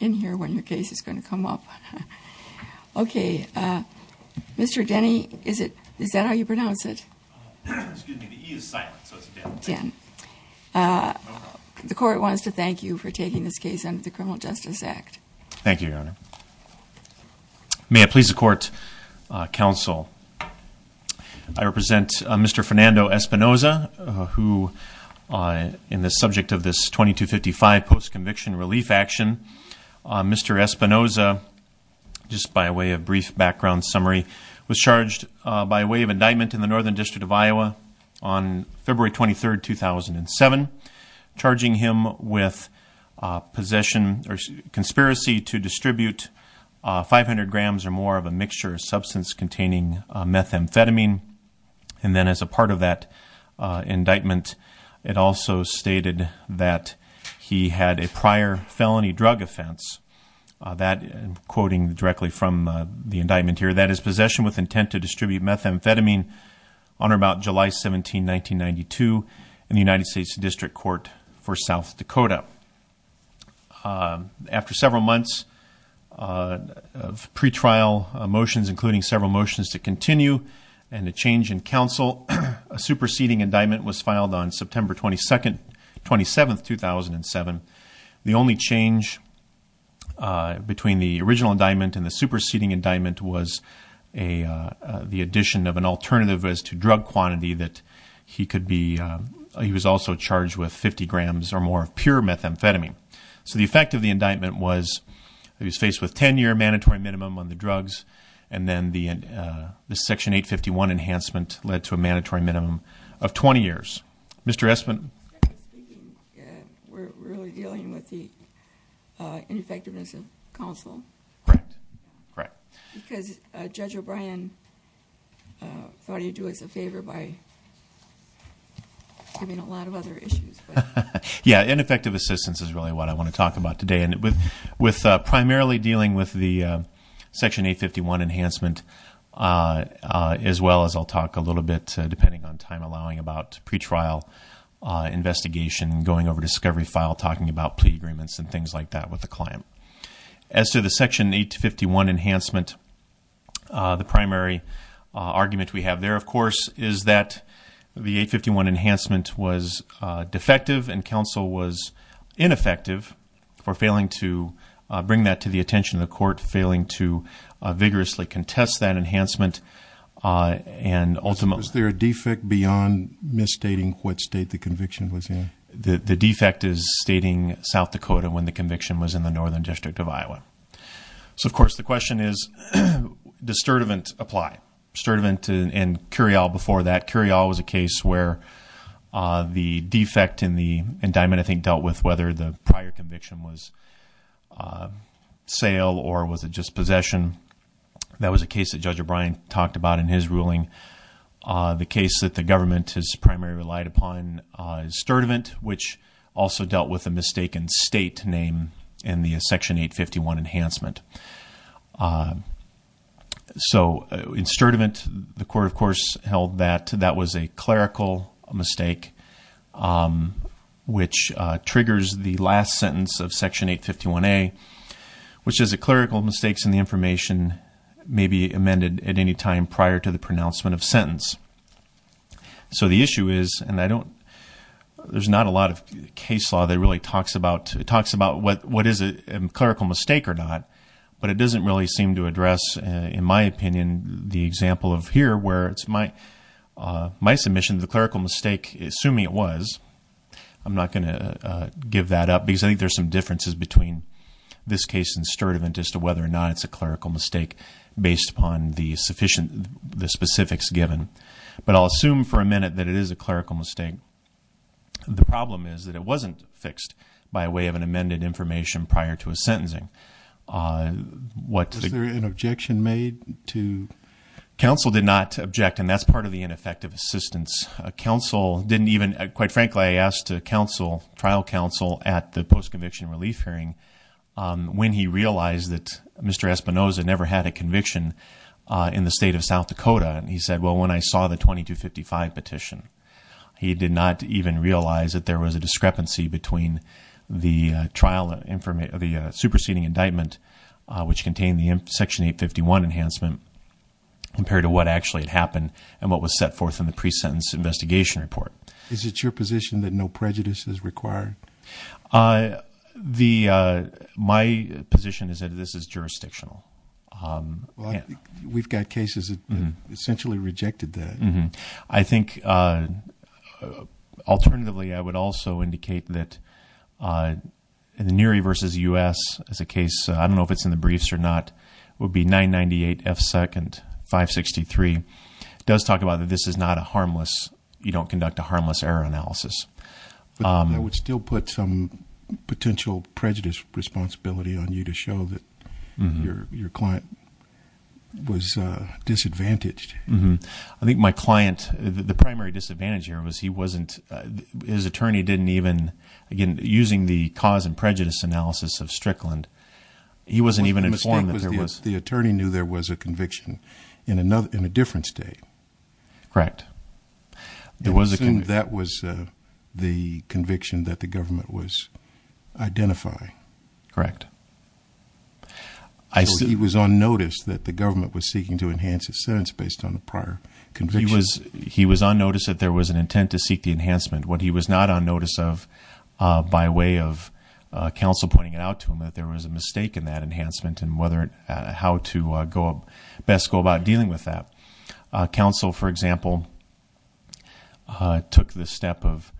in here when your case is going to come up okay uh Mr. Denny is it is that how you pronounce it excuse me the e is silent so it's again uh the court wants to thank you for taking this case under the criminal justice act thank you your honor may it please the court uh counsel i represent uh mr fernando espinoza who in the subject of this 2255 post conviction relief action mr espinoza just by way of brief background summary was charged by way of indictment in the northern district of iowa on february 23rd 2007 charging him with possession or conspiracy to distribute 500 grams or more of a mixture of substance containing methamphetamine and then as part of that indictment it also stated that he had a prior felony drug offense that quoting directly from the indictment here that his possession with intent to distribute methamphetamine on or about july 17 1992 in the united states district court for south dakota after several months of pre-trial motions including several motions to continue and a change in counsel a superseding indictment was filed on september 22nd 27th 2007 the only change uh between the original indictment and the superseding indictment was a the addition of an alternative as to drug quantity that he could be he was also charged with 50 grams or more of pure methamphetamine so the effect of the indictment was he was faced with 10-year mandatory minimum on the drugs and then the uh the section 851 enhancement led to a mandatory minimum of 20 years mr espin we're really dealing with the uh ineffectiveness of counsel correct correct because uh judge o'brien uh thought he'd do us a favor by giving a lot of other issues yeah ineffective assistance is really what i want to talk about today and with with uh primarily dealing with the section 851 enhancement uh as well as i'll talk a little bit depending on time allowing about pre-trial uh investigation going over discovery file talking about plea agreements and things like that with the client as to the section 851 enhancement uh the primary argument we have there of course is that the 851 enhancement was uh ineffective for failing to bring that to the attention of the court failing to vigorously contest that enhancement uh and ultimately was there a defect beyond misstating what state the conviction was in the the defect is stating south dakota when the conviction was in the northern district of iowa so of course the question is does sturdivant apply sturdivant and curial before that curial was a case where uh the defect in the indictment i think dealt with the prior conviction was uh sale or was it just possession that was a case that judge o'brien talked about in his ruling uh the case that the government has primarily relied upon sturdivant which also dealt with a mistaken state name in the section 851 enhancement so in sturdivant the court of course held that that was a clerical mistake um which triggers the last sentence of section 851a which is a clerical mistakes in the information may be amended at any time prior to the pronouncement of sentence so the issue is and i don't there's not a lot of case law that really talks about it talks about what what is a clerical mistake or not but it doesn't really seem to address in my opinion the example of here where it's my uh my submission the clerical mistake assuming it was i'm not going to uh give that up because i think there's some differences between this case and sturdivant as to whether or not it's a clerical mistake based upon the sufficient the specifics given but i'll assume for a minute that it is a clerical mistake the problem is that it wasn't fixed by way of an counsel did not object and that's part of the ineffective assistance council didn't even quite frankly i asked to counsel trial counsel at the post-conviction relief hearing um when he realized that mr espinoza never had a conviction uh in the state of south dakota and he said well when i saw the 2255 petition he did not even realize that there was a discrepancy between the trial the superseding indictment which contained the section 851 enhancement compared to what actually had happened and what was set forth in the pre-sentence investigation report is it your position that no prejudice is required uh the uh my position is that this is jurisdictional we've got cases that essentially rejected that i think uh alternatively i would also indicate that uh in the neary versus us as a case i don't know if it's in the briefs or not it would be 998 f second 563 does talk about that this is not a harmless you don't conduct a harmless error analysis um i would still put some potential prejudice responsibility on you to show that your your client was uh disadvantaged i think my client the primary disadvantage here was he wasn't his attorney didn't even again using the cause and prejudice analysis of strickland he wasn't even informed that there was the attorney knew there was a conviction in another in a different state correct it wasn't that was uh the conviction that the government was identifying correct i see he was on notice that the government was seeking to enhance his sentence based on a prior conviction he was on notice that there was an intent to seek enhancement what he was not on notice of uh by way of uh council pointing it out to him that there was a mistake in that enhancement and whether how to go best go about dealing with that council for example uh took the step of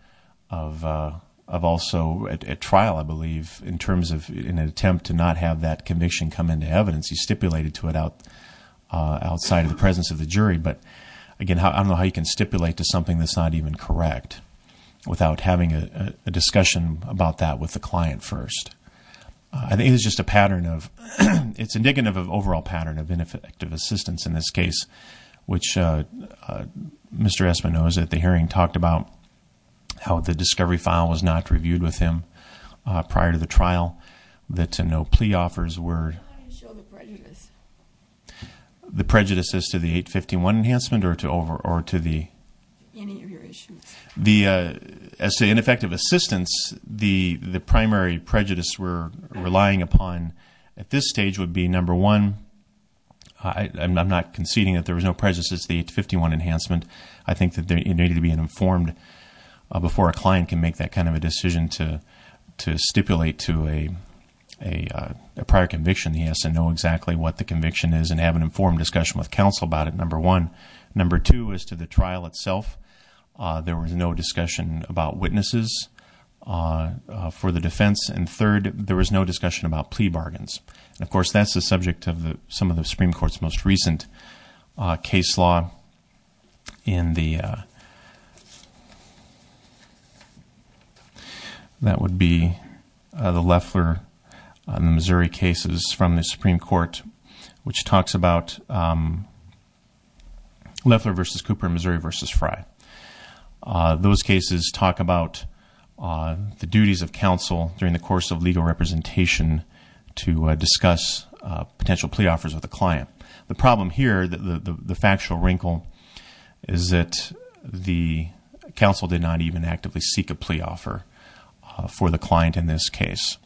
of uh of also at trial i believe in terms of in an attempt to not have that conviction come into evidence he stipulated to it out uh outside of the presence of the jury but again i don't know how you can stipulate to something that's not even correct without having a discussion about that with the client first i think it's just a pattern of it's indicative of overall pattern of benefit active assistance in this case which uh mr espinosa at the hearing talked about how the discovery file was not reviewed with him prior to the trial that to enhancement or to over or to the any of your issues the uh as to ineffective assistance the the primary prejudice we're relying upon at this stage would be number one i i'm not conceding that there was no prejudice it's the 851 enhancement i think that there needed to be an informed uh before a client can make that kind of a decision to to stipulate to a a prior conviction he has to know exactly what the conviction is and have an informed discussion with counsel about it number one number two is to the trial itself uh there was no discussion about witnesses uh for the defense and third there was no discussion about plea bargains and of course that's the subject of the some of the supreme court's most recent uh case law in the that would be the lefler on the missouri cases from the supreme court which talks about um lefler versus cooper missouri versus fry uh those cases talk about uh the duties of counsel during the course of legal representation to discuss uh potential plea offers with the client the problem here the the factual wrinkle is that the counsel did not even actively seek a plea offer for the client in this case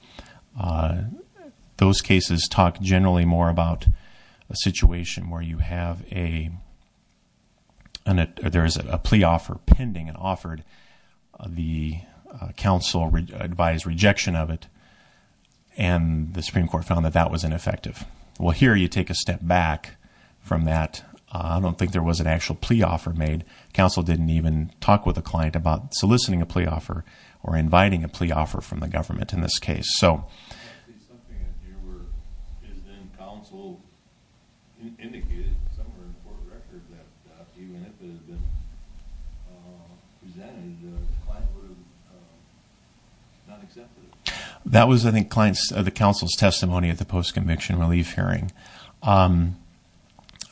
those cases talk generally more about a situation where you have a and there is a plea offer pending and offered the counsel advised rejection of it and the supreme court found that that was ineffective well here you take a step back from that i don't think there was an actual plea offer made counsel didn't even talk with a client about soliciting a plea offer or inviting a plea offer from the government in this case so something in here where is then counsel indicated somewhere in court records that even if it had been uh presented the client would have not accepted it that was i think clients the counsel's testimony at the post-conviction relief hearing um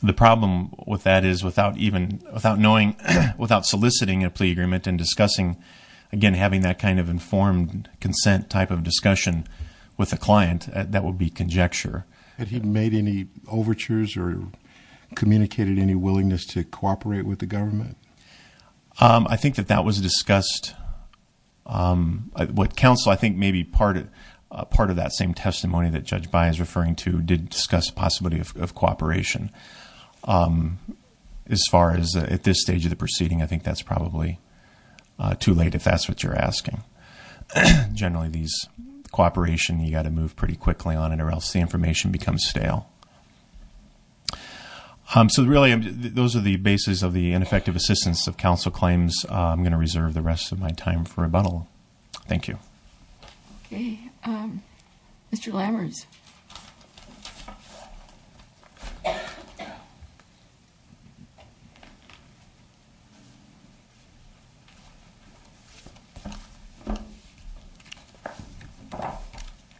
the problem with that is without even without knowing without soliciting a plea agreement and discussing again having that kind of informed consent type of discussion with a client that would be conjecture but he made any overtures or communicated any willingness to cooperate with the government um i think that that was discussed um what counsel i think maybe part of part of that same testimony that judge by is referring to did discuss possibility of cooperation um as far as at this stage of the proceeding i think that's probably too late if that's what you're asking generally these cooperation you got to move pretty quickly on it or else the information becomes stale um so really those are the basis of the ineffective assistance of counsel claims i'm going to reserve the rest of my time for rebuttal thank you okay um mr lammers uh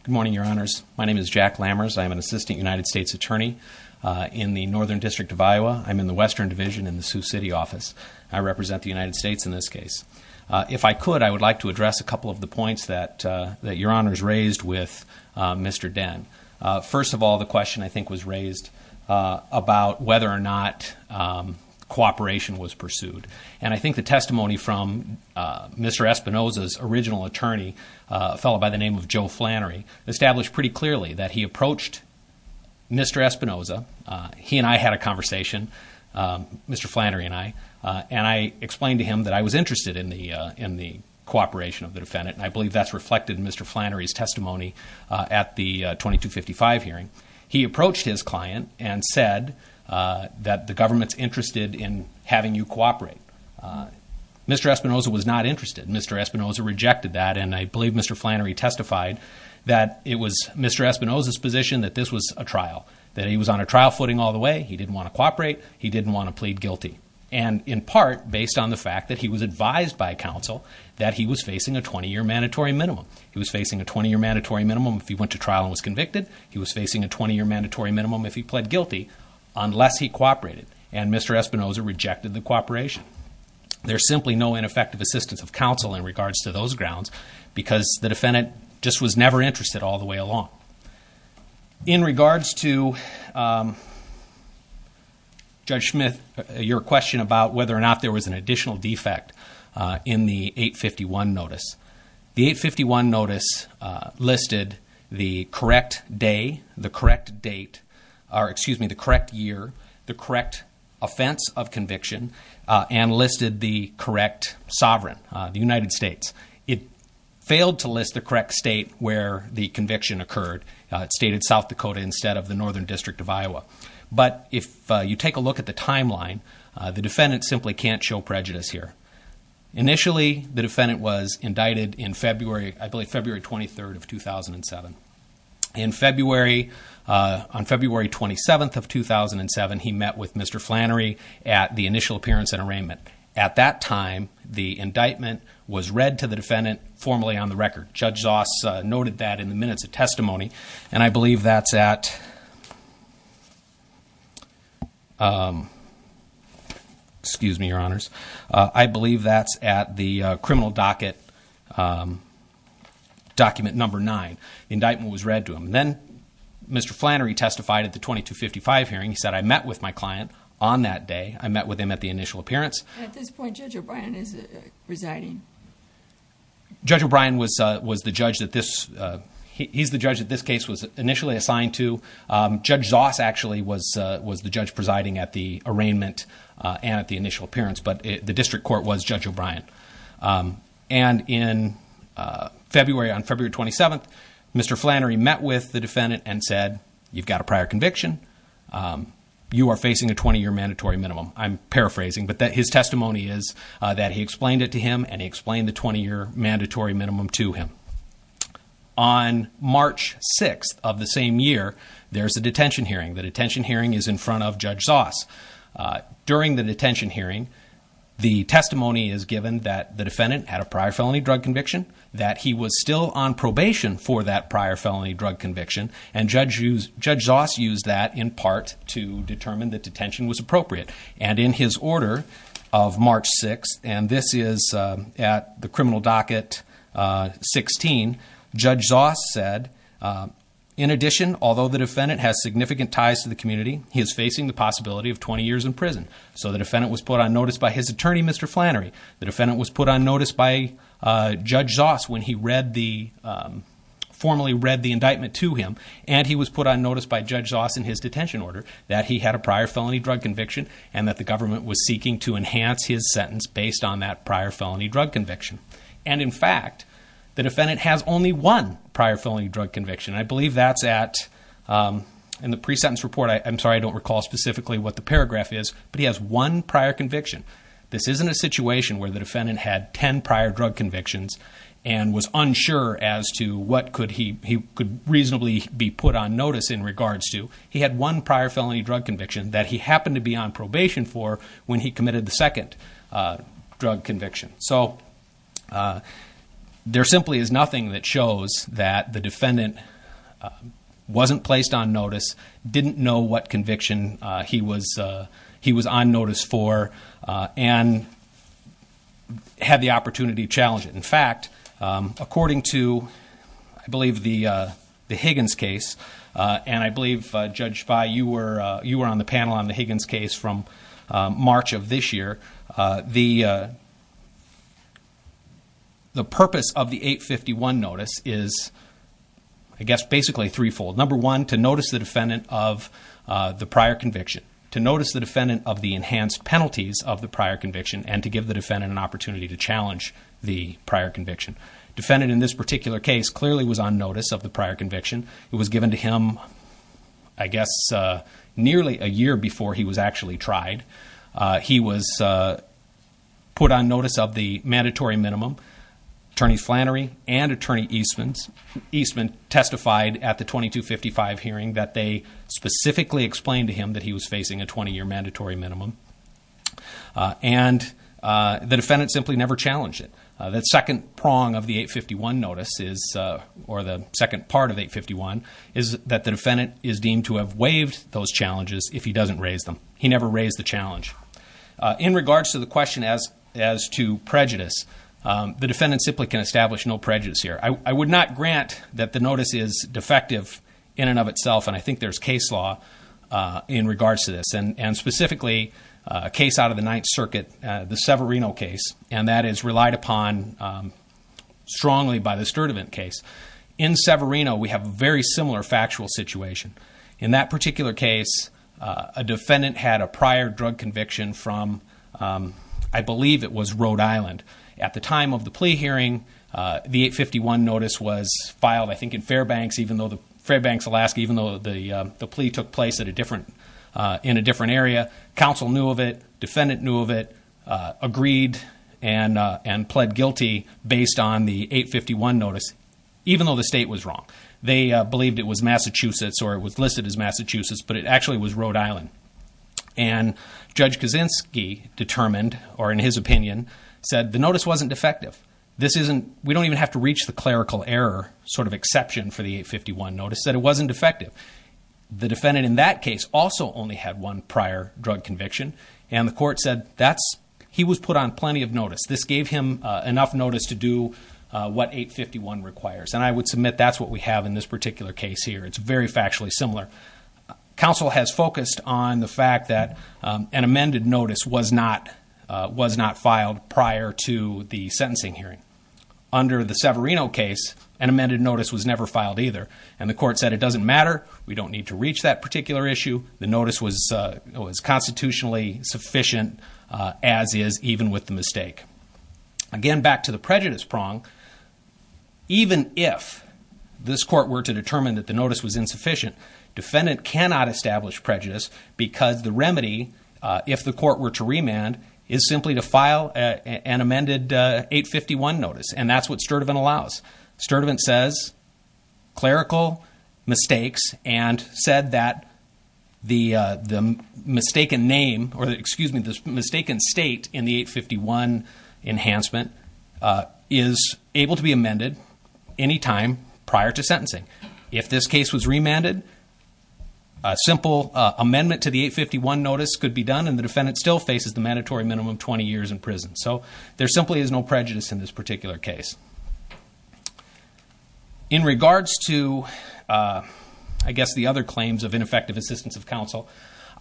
good morning your honors my name is jack lammers i am an assistant united states attorney in the northern district of iowa i'm in the western division in the sioux city office i represent the united states in this case if i could i would like to address a couple of the points that that your honors raised with mr den first of all the question i think was raised about whether or not um cooperation was pursued and i think the testimony from mr espinoza's original attorney a fellow by the name of joe flannery established pretty clearly that he approached mr espinoza he and i had a conversation um mr flannery and i uh and i explained to him that i was interested in the uh in the cooperation of the defendant i believe that's reflected in mr flannery's testimony uh at the 2255 hearing he approached his client and said uh that the government's interested in having you cooperate uh mr espinoza was not interested mr espinoza rejected that and i believe mr flannery testified that it was mr espinoza's position that this was a trial that he was on a trial footing all the way he didn't want to cooperate he didn't want to plead guilty and in part based on the fact that he was advised by counsel that he was facing a 20-year mandatory minimum he was facing a 20-year mandatory minimum if he went to trial and was convicted he was facing a 20-year mandatory minimum if he pled guilty unless he cooperated and mr espinoza rejected the cooperation there's simply no ineffective assistance of counsel in regards to those grounds because the defendant just was never interested all the way along in regards to um judge smith your question about whether or not there was an additional defect uh in the 851 notice the 851 notice uh listed the correct day the correct date or excuse me the correct year the correct offense of conviction and listed the correct sovereign the united states it failed to list the correct state where the conviction occurred it stated south dakota instead of the northern district of iowa but if you take a look at the here initially the defendant was indicted in february i believe february 23rd of 2007 in february uh on february 27th of 2007 he met with mr flannery at the initial appearance and arraignment at that time the indictment was read to the defendant formally on the record judge zoss noted that in the minutes of testimony and i believe that's at um excuse me your honors uh i believe that's at the criminal docket um document number nine indictment was read to him then mr flannery testified at the 2255 hearing he said i met with my client on that day i met with him at the initial appearance at this point judge o'brien is residing judge o'brien was uh was the judge that this uh he's the judge that this case was the judge presiding at the arraignment uh and at the initial appearance but the district court was judge o'brien um and in uh february on february 27th mr flannery met with the defendant and said you've got a prior conviction um you are facing a 20-year mandatory minimum i'm paraphrasing but that his testimony is uh that he explained it to him and he explained the 20-year mandatory minimum to him on march 6th of the same year there's a detention hearing the detention hearing is in front of judge zoss uh during the detention hearing the testimony is given that the defendant had a prior felony drug conviction that he was still on probation for that prior felony drug conviction and judge used judge zoss used that in part to determine that detention was appropriate and in his order of march 6 and this is at the criminal docket uh 16 judge zoss said in addition although the defendant has significant ties to the community he is facing the possibility of 20 years in prison so the defendant was put on notice by his attorney mr flannery the defendant was put on notice by uh judge zoss when he read the um formally read the indictment to him and he was put on notice by judge zoss in his detention order that he had a prior felony drug conviction and that the government was seeking to enhance his sentence based on that prior felony drug conviction and in fact the defendant has only one prior felony drug conviction i believe that's at um in the pre-sentence report i'm sorry i don't recall specifically what the paragraph is but he has one prior conviction this isn't a situation where the defendant had 10 prior drug convictions and was unsure as to what could he he could reasonably be put on notice in regards to he had one prior felony drug conviction that he happened to be on probation for when he committed the second uh drug conviction so uh there simply is nothing that shows that the defendant wasn't placed on notice didn't know what conviction uh he was uh he was on notice for uh and had the opportunity to challenge it in fact um according to i believe the uh the higgins case and i believe uh judge by you were uh you were on the panel on the higgins case from march of this year uh the uh the purpose of the 851 notice is i guess basically threefold number one to notice the defendant of uh the prior conviction to notice the defendant of the enhanced penalties of the prior conviction and to give the defendant an opportunity to challenge the prior conviction defendant in this particular case clearly was on notice of the prior conviction it was given to him i guess uh nearly a year before he was actually tried uh he was uh put on notice of the mandatory minimum attorney flannery and attorney eastman's eastman testified at the 2255 hearing that they specifically explained to him that he was facing a 20-year mandatory minimum and uh the defendant simply never challenged it that second prong of the is that the defendant is deemed to have waived those challenges if he doesn't raise them he never raised the challenge in regards to the question as as to prejudice the defendant simply can establish no prejudice here i would not grant that the notice is defective in and of itself and i think there's case law uh in regards to this and and specifically a case out of the ninth circuit the severino case and that is relied upon strongly by the sturdivant case in severino we have a very similar factual situation in that particular case a defendant had a prior drug conviction from um i believe it was rhode island at the time of the plea hearing uh the 851 notice was filed i think in fairbanks even though the fairbanks alaska even though the the plea took place at a different uh in a different area council knew of it defendant knew of it uh agreed and uh and pled guilty based on the 851 notice even though the state was wrong they believed it was massachusetts or it was listed as massachusetts but it actually was rhode island and judge kaczynski determined or in his opinion said the notice wasn't defective this isn't we don't even have to reach the clerical error sort of exception for the 851 notice that it wasn't defective the defendant in that case also only had one prior drug conviction and the court said that's he was on plenty of notice this gave him enough notice to do what 851 requires and i would submit that's what we have in this particular case here it's very factually similar council has focused on the fact that um an amended notice was not uh was not filed prior to the sentencing hearing under the severino case an amended notice was never filed either and the court said it doesn't matter we don't need to reach that particular issue the notice was uh was constitutionally insufficient uh as is even with the mistake again back to the prejudice prong even if this court were to determine that the notice was insufficient defendant cannot establish prejudice because the remedy uh if the court were to remand is simply to file an amended 851 notice and that's what this mistaken state in the 851 enhancement uh is able to be amended anytime prior to sentencing if this case was remanded a simple amendment to the 851 notice could be done and the defendant still faces the mandatory minimum 20 years in prison so there simply is no prejudice in this particular case in regards to uh i guess the other claims of ineffective assistance of counsel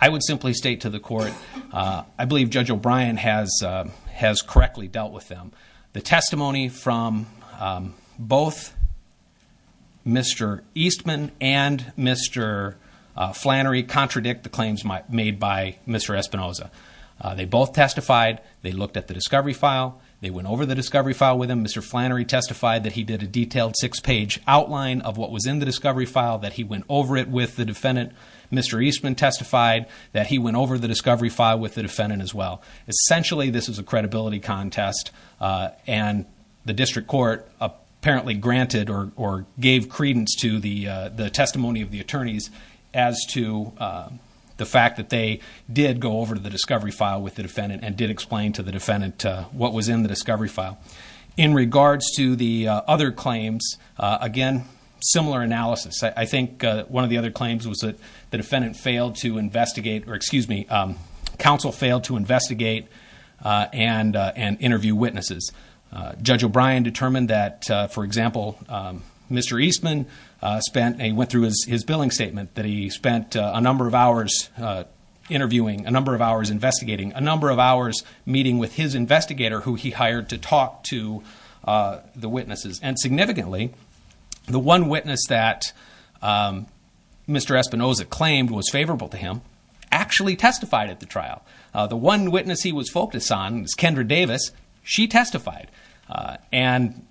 i would simply state to the court uh i believe judge o'brien has uh has correctly dealt with them the testimony from um both mr eastman and mr uh flannery contradict the claims made by mr espinoza they both testified they looked at the discovery file they went over the discovery file with him mr flannery testified that he did a detailed six page outline of what was in the discovery file that he went over it with the defendant mr eastman testified that he went over the discovery file with the defendant as well essentially this is a credibility contest uh and the district court apparently granted or or gave credence to the uh the testimony of the attorneys as to uh the fact that they did go over to the discovery file with the defendant and did explain to the defendant what was in the discovery file in regards to the other claims again similar analysis i think one of the other claims was that the defendant failed to investigate or excuse me um council failed to investigate uh and uh and interview witnesses uh judge o'brien determined that for example um mr eastman uh spent a went through his his billing statement that he spent a number of hours uh interviewing a number of hours investigating a number of hours meeting with his investigator who he hired to talk to uh the witnesses and significantly the one witness that um mr espinoza claimed was favorable to him actually testified at the trial the one witness he was focused on is kendra davis she testified uh and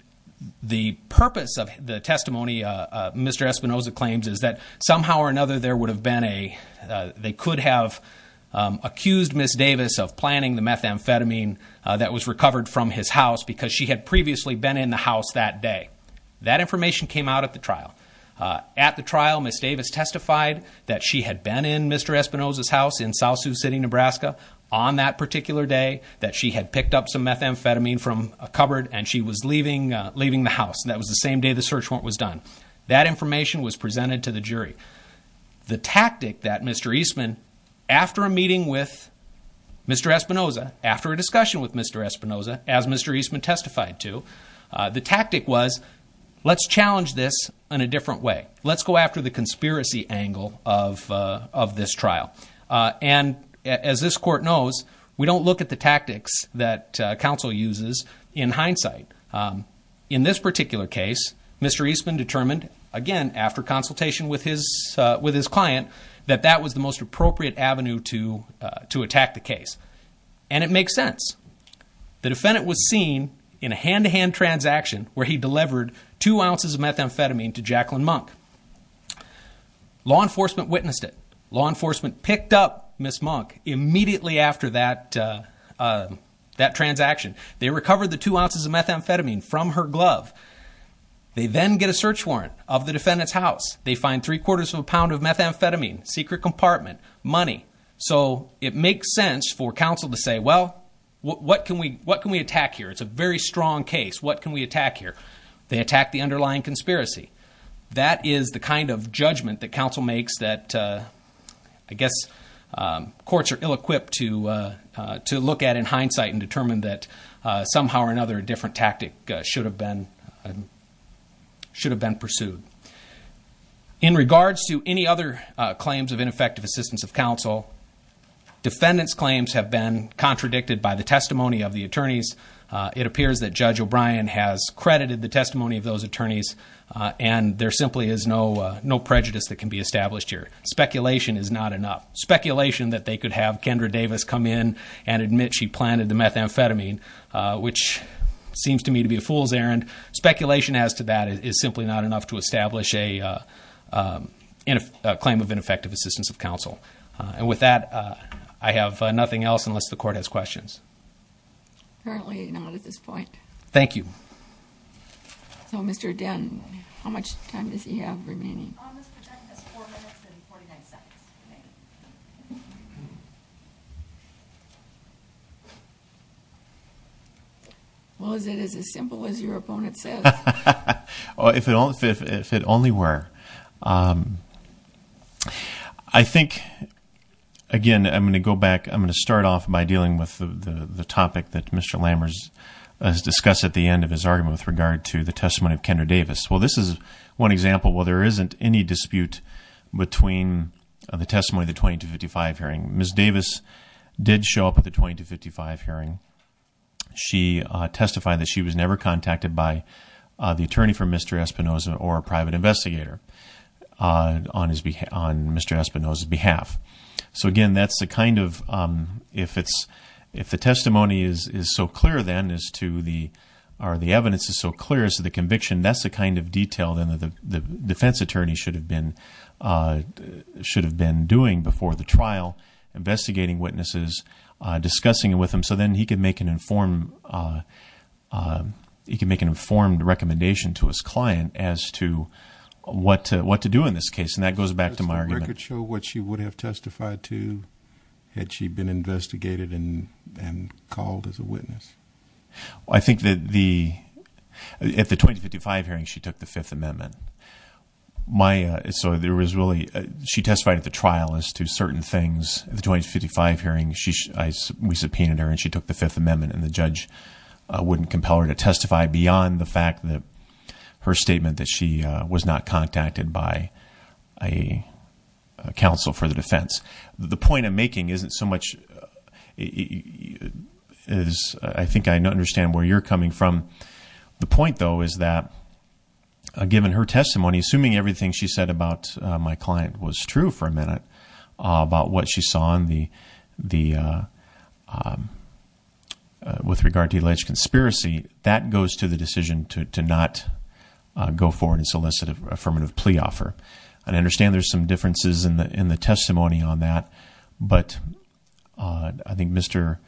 the purpose of the testimony uh uh mr espinoza claims is that somehow or another there would have been a uh they could have um accused miss davis of planning the methamphetamine uh that was recovered from his house because she had previously been in the house that day that information came out at the trial uh at the trial miss davis testified that she had been in mr espinoza's house in south sioux city nebraska on that particular day that she had picked up some methamphetamine from a cupboard and she was leaving uh leaving the house that was the same day the search warrant was done that information was presented to the jury the tactic that mr eastman testified to uh the tactic was let's challenge this in a different way let's go after the conspiracy angle of uh of this trial uh and as this court knows we don't look at the tactics that council uses in hindsight um in this particular case mr eastman determined again after consultation with his uh with his client that that was the most appropriate avenue to to attack the case and it makes sense the defendant was seen in a hand-to-hand transaction where he delivered two ounces of methamphetamine to jacqueline monk law enforcement witnessed it law enforcement picked up miss monk immediately after that uh that transaction they recovered the two ounces of methamphetamine from her glove they then get a search warrant of the defendant's secret compartment money so it makes sense for council to say well what can we what can we attack here it's a very strong case what can we attack here they attack the underlying conspiracy that is the kind of judgment that council makes that uh i guess um courts are ill-equipped to uh to look at in hindsight and determine that uh somehow or another a different should have been pursued in regards to any other claims of ineffective assistance of council defendants claims have been contradicted by the testimony of the attorneys it appears that judge o'brien has credited the testimony of those attorneys and there simply is no no prejudice that can be established here speculation is not enough speculation that they could have kendra methamphetamine uh which seems to me to be a fool's errand speculation as to that is simply not enough to establish a uh in a claim of ineffective assistance of council and with that i have nothing else unless the court has questions currently not at this point thank you so mr den how much time does he have remaining well is it as simple as your opponent says oh if it all if it only were um i think again i'm going to go back i'm going to start off by dealing with the the topic that mr with regard to the testimony of kendra davis well this is one example well there isn't any dispute between the testimony of the 20 to 55 hearing miss davis did show up at the 20 to 55 hearing she uh testified that she was never contacted by uh the attorney for mr espinoza or a private investigator uh on his behalf on mr espinoza's behalf so again that's the kind of um if it's if the testimony is is so clear then as to the or the evidence is so clear as to the conviction that's the kind of detail then the the defense attorney should have been uh should have been doing before the trial investigating witnesses uh discussing with him so then he could make an informed uh uh he can make an informed recommendation to his client as to what to what to do in this case and that goes back to my record show what she would have testified to had she been investigated and and called as a witness i think that the at the 2055 hearing she took the fifth amendment my uh so there was really she testified at the trial as to certain things the 2055 hearing she we subpoenaed her and she took the fifth amendment and the judge wouldn't compel her to testify beyond the fact that her statement that she was not contacted by a council for the defense the point i'm making isn't so much is i think i understand where you're coming from the point though is that given her testimony assuming everything she said about my client was true for a minute about what she saw in the the with regard to alleged conspiracy that goes to the decision to to not go forward and solicit an affirmative plea offer i understand there's some differences in the in the testimony on that but i think mr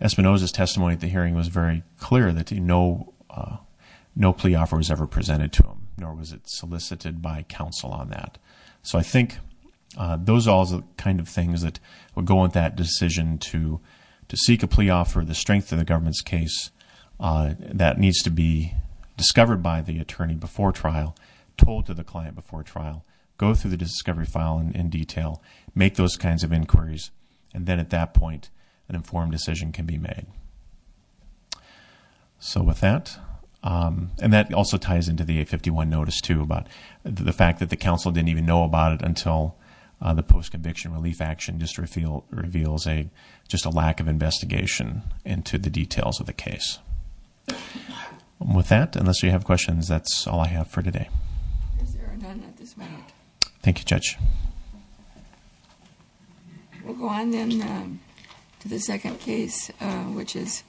espinoza's testimony at the hearing was very clear that you know uh no plea offer was ever presented to him nor was it solicited by counsel on that so i think those are all the kind of things that would go with that decision to to seek a plea offer the case uh that needs to be discovered by the attorney before trial told to the client before trial go through the discovery file and in detail make those kinds of inquiries and then at that point an informed decision can be made so with that um and that also ties into the 851 notice too about the fact that the council didn't even know about it until the post-conviction relief just reveal reveals a just a lack of investigation into the details of the case with that unless you have questions that's all i have for today thank you judge we'll go on then to the second case which is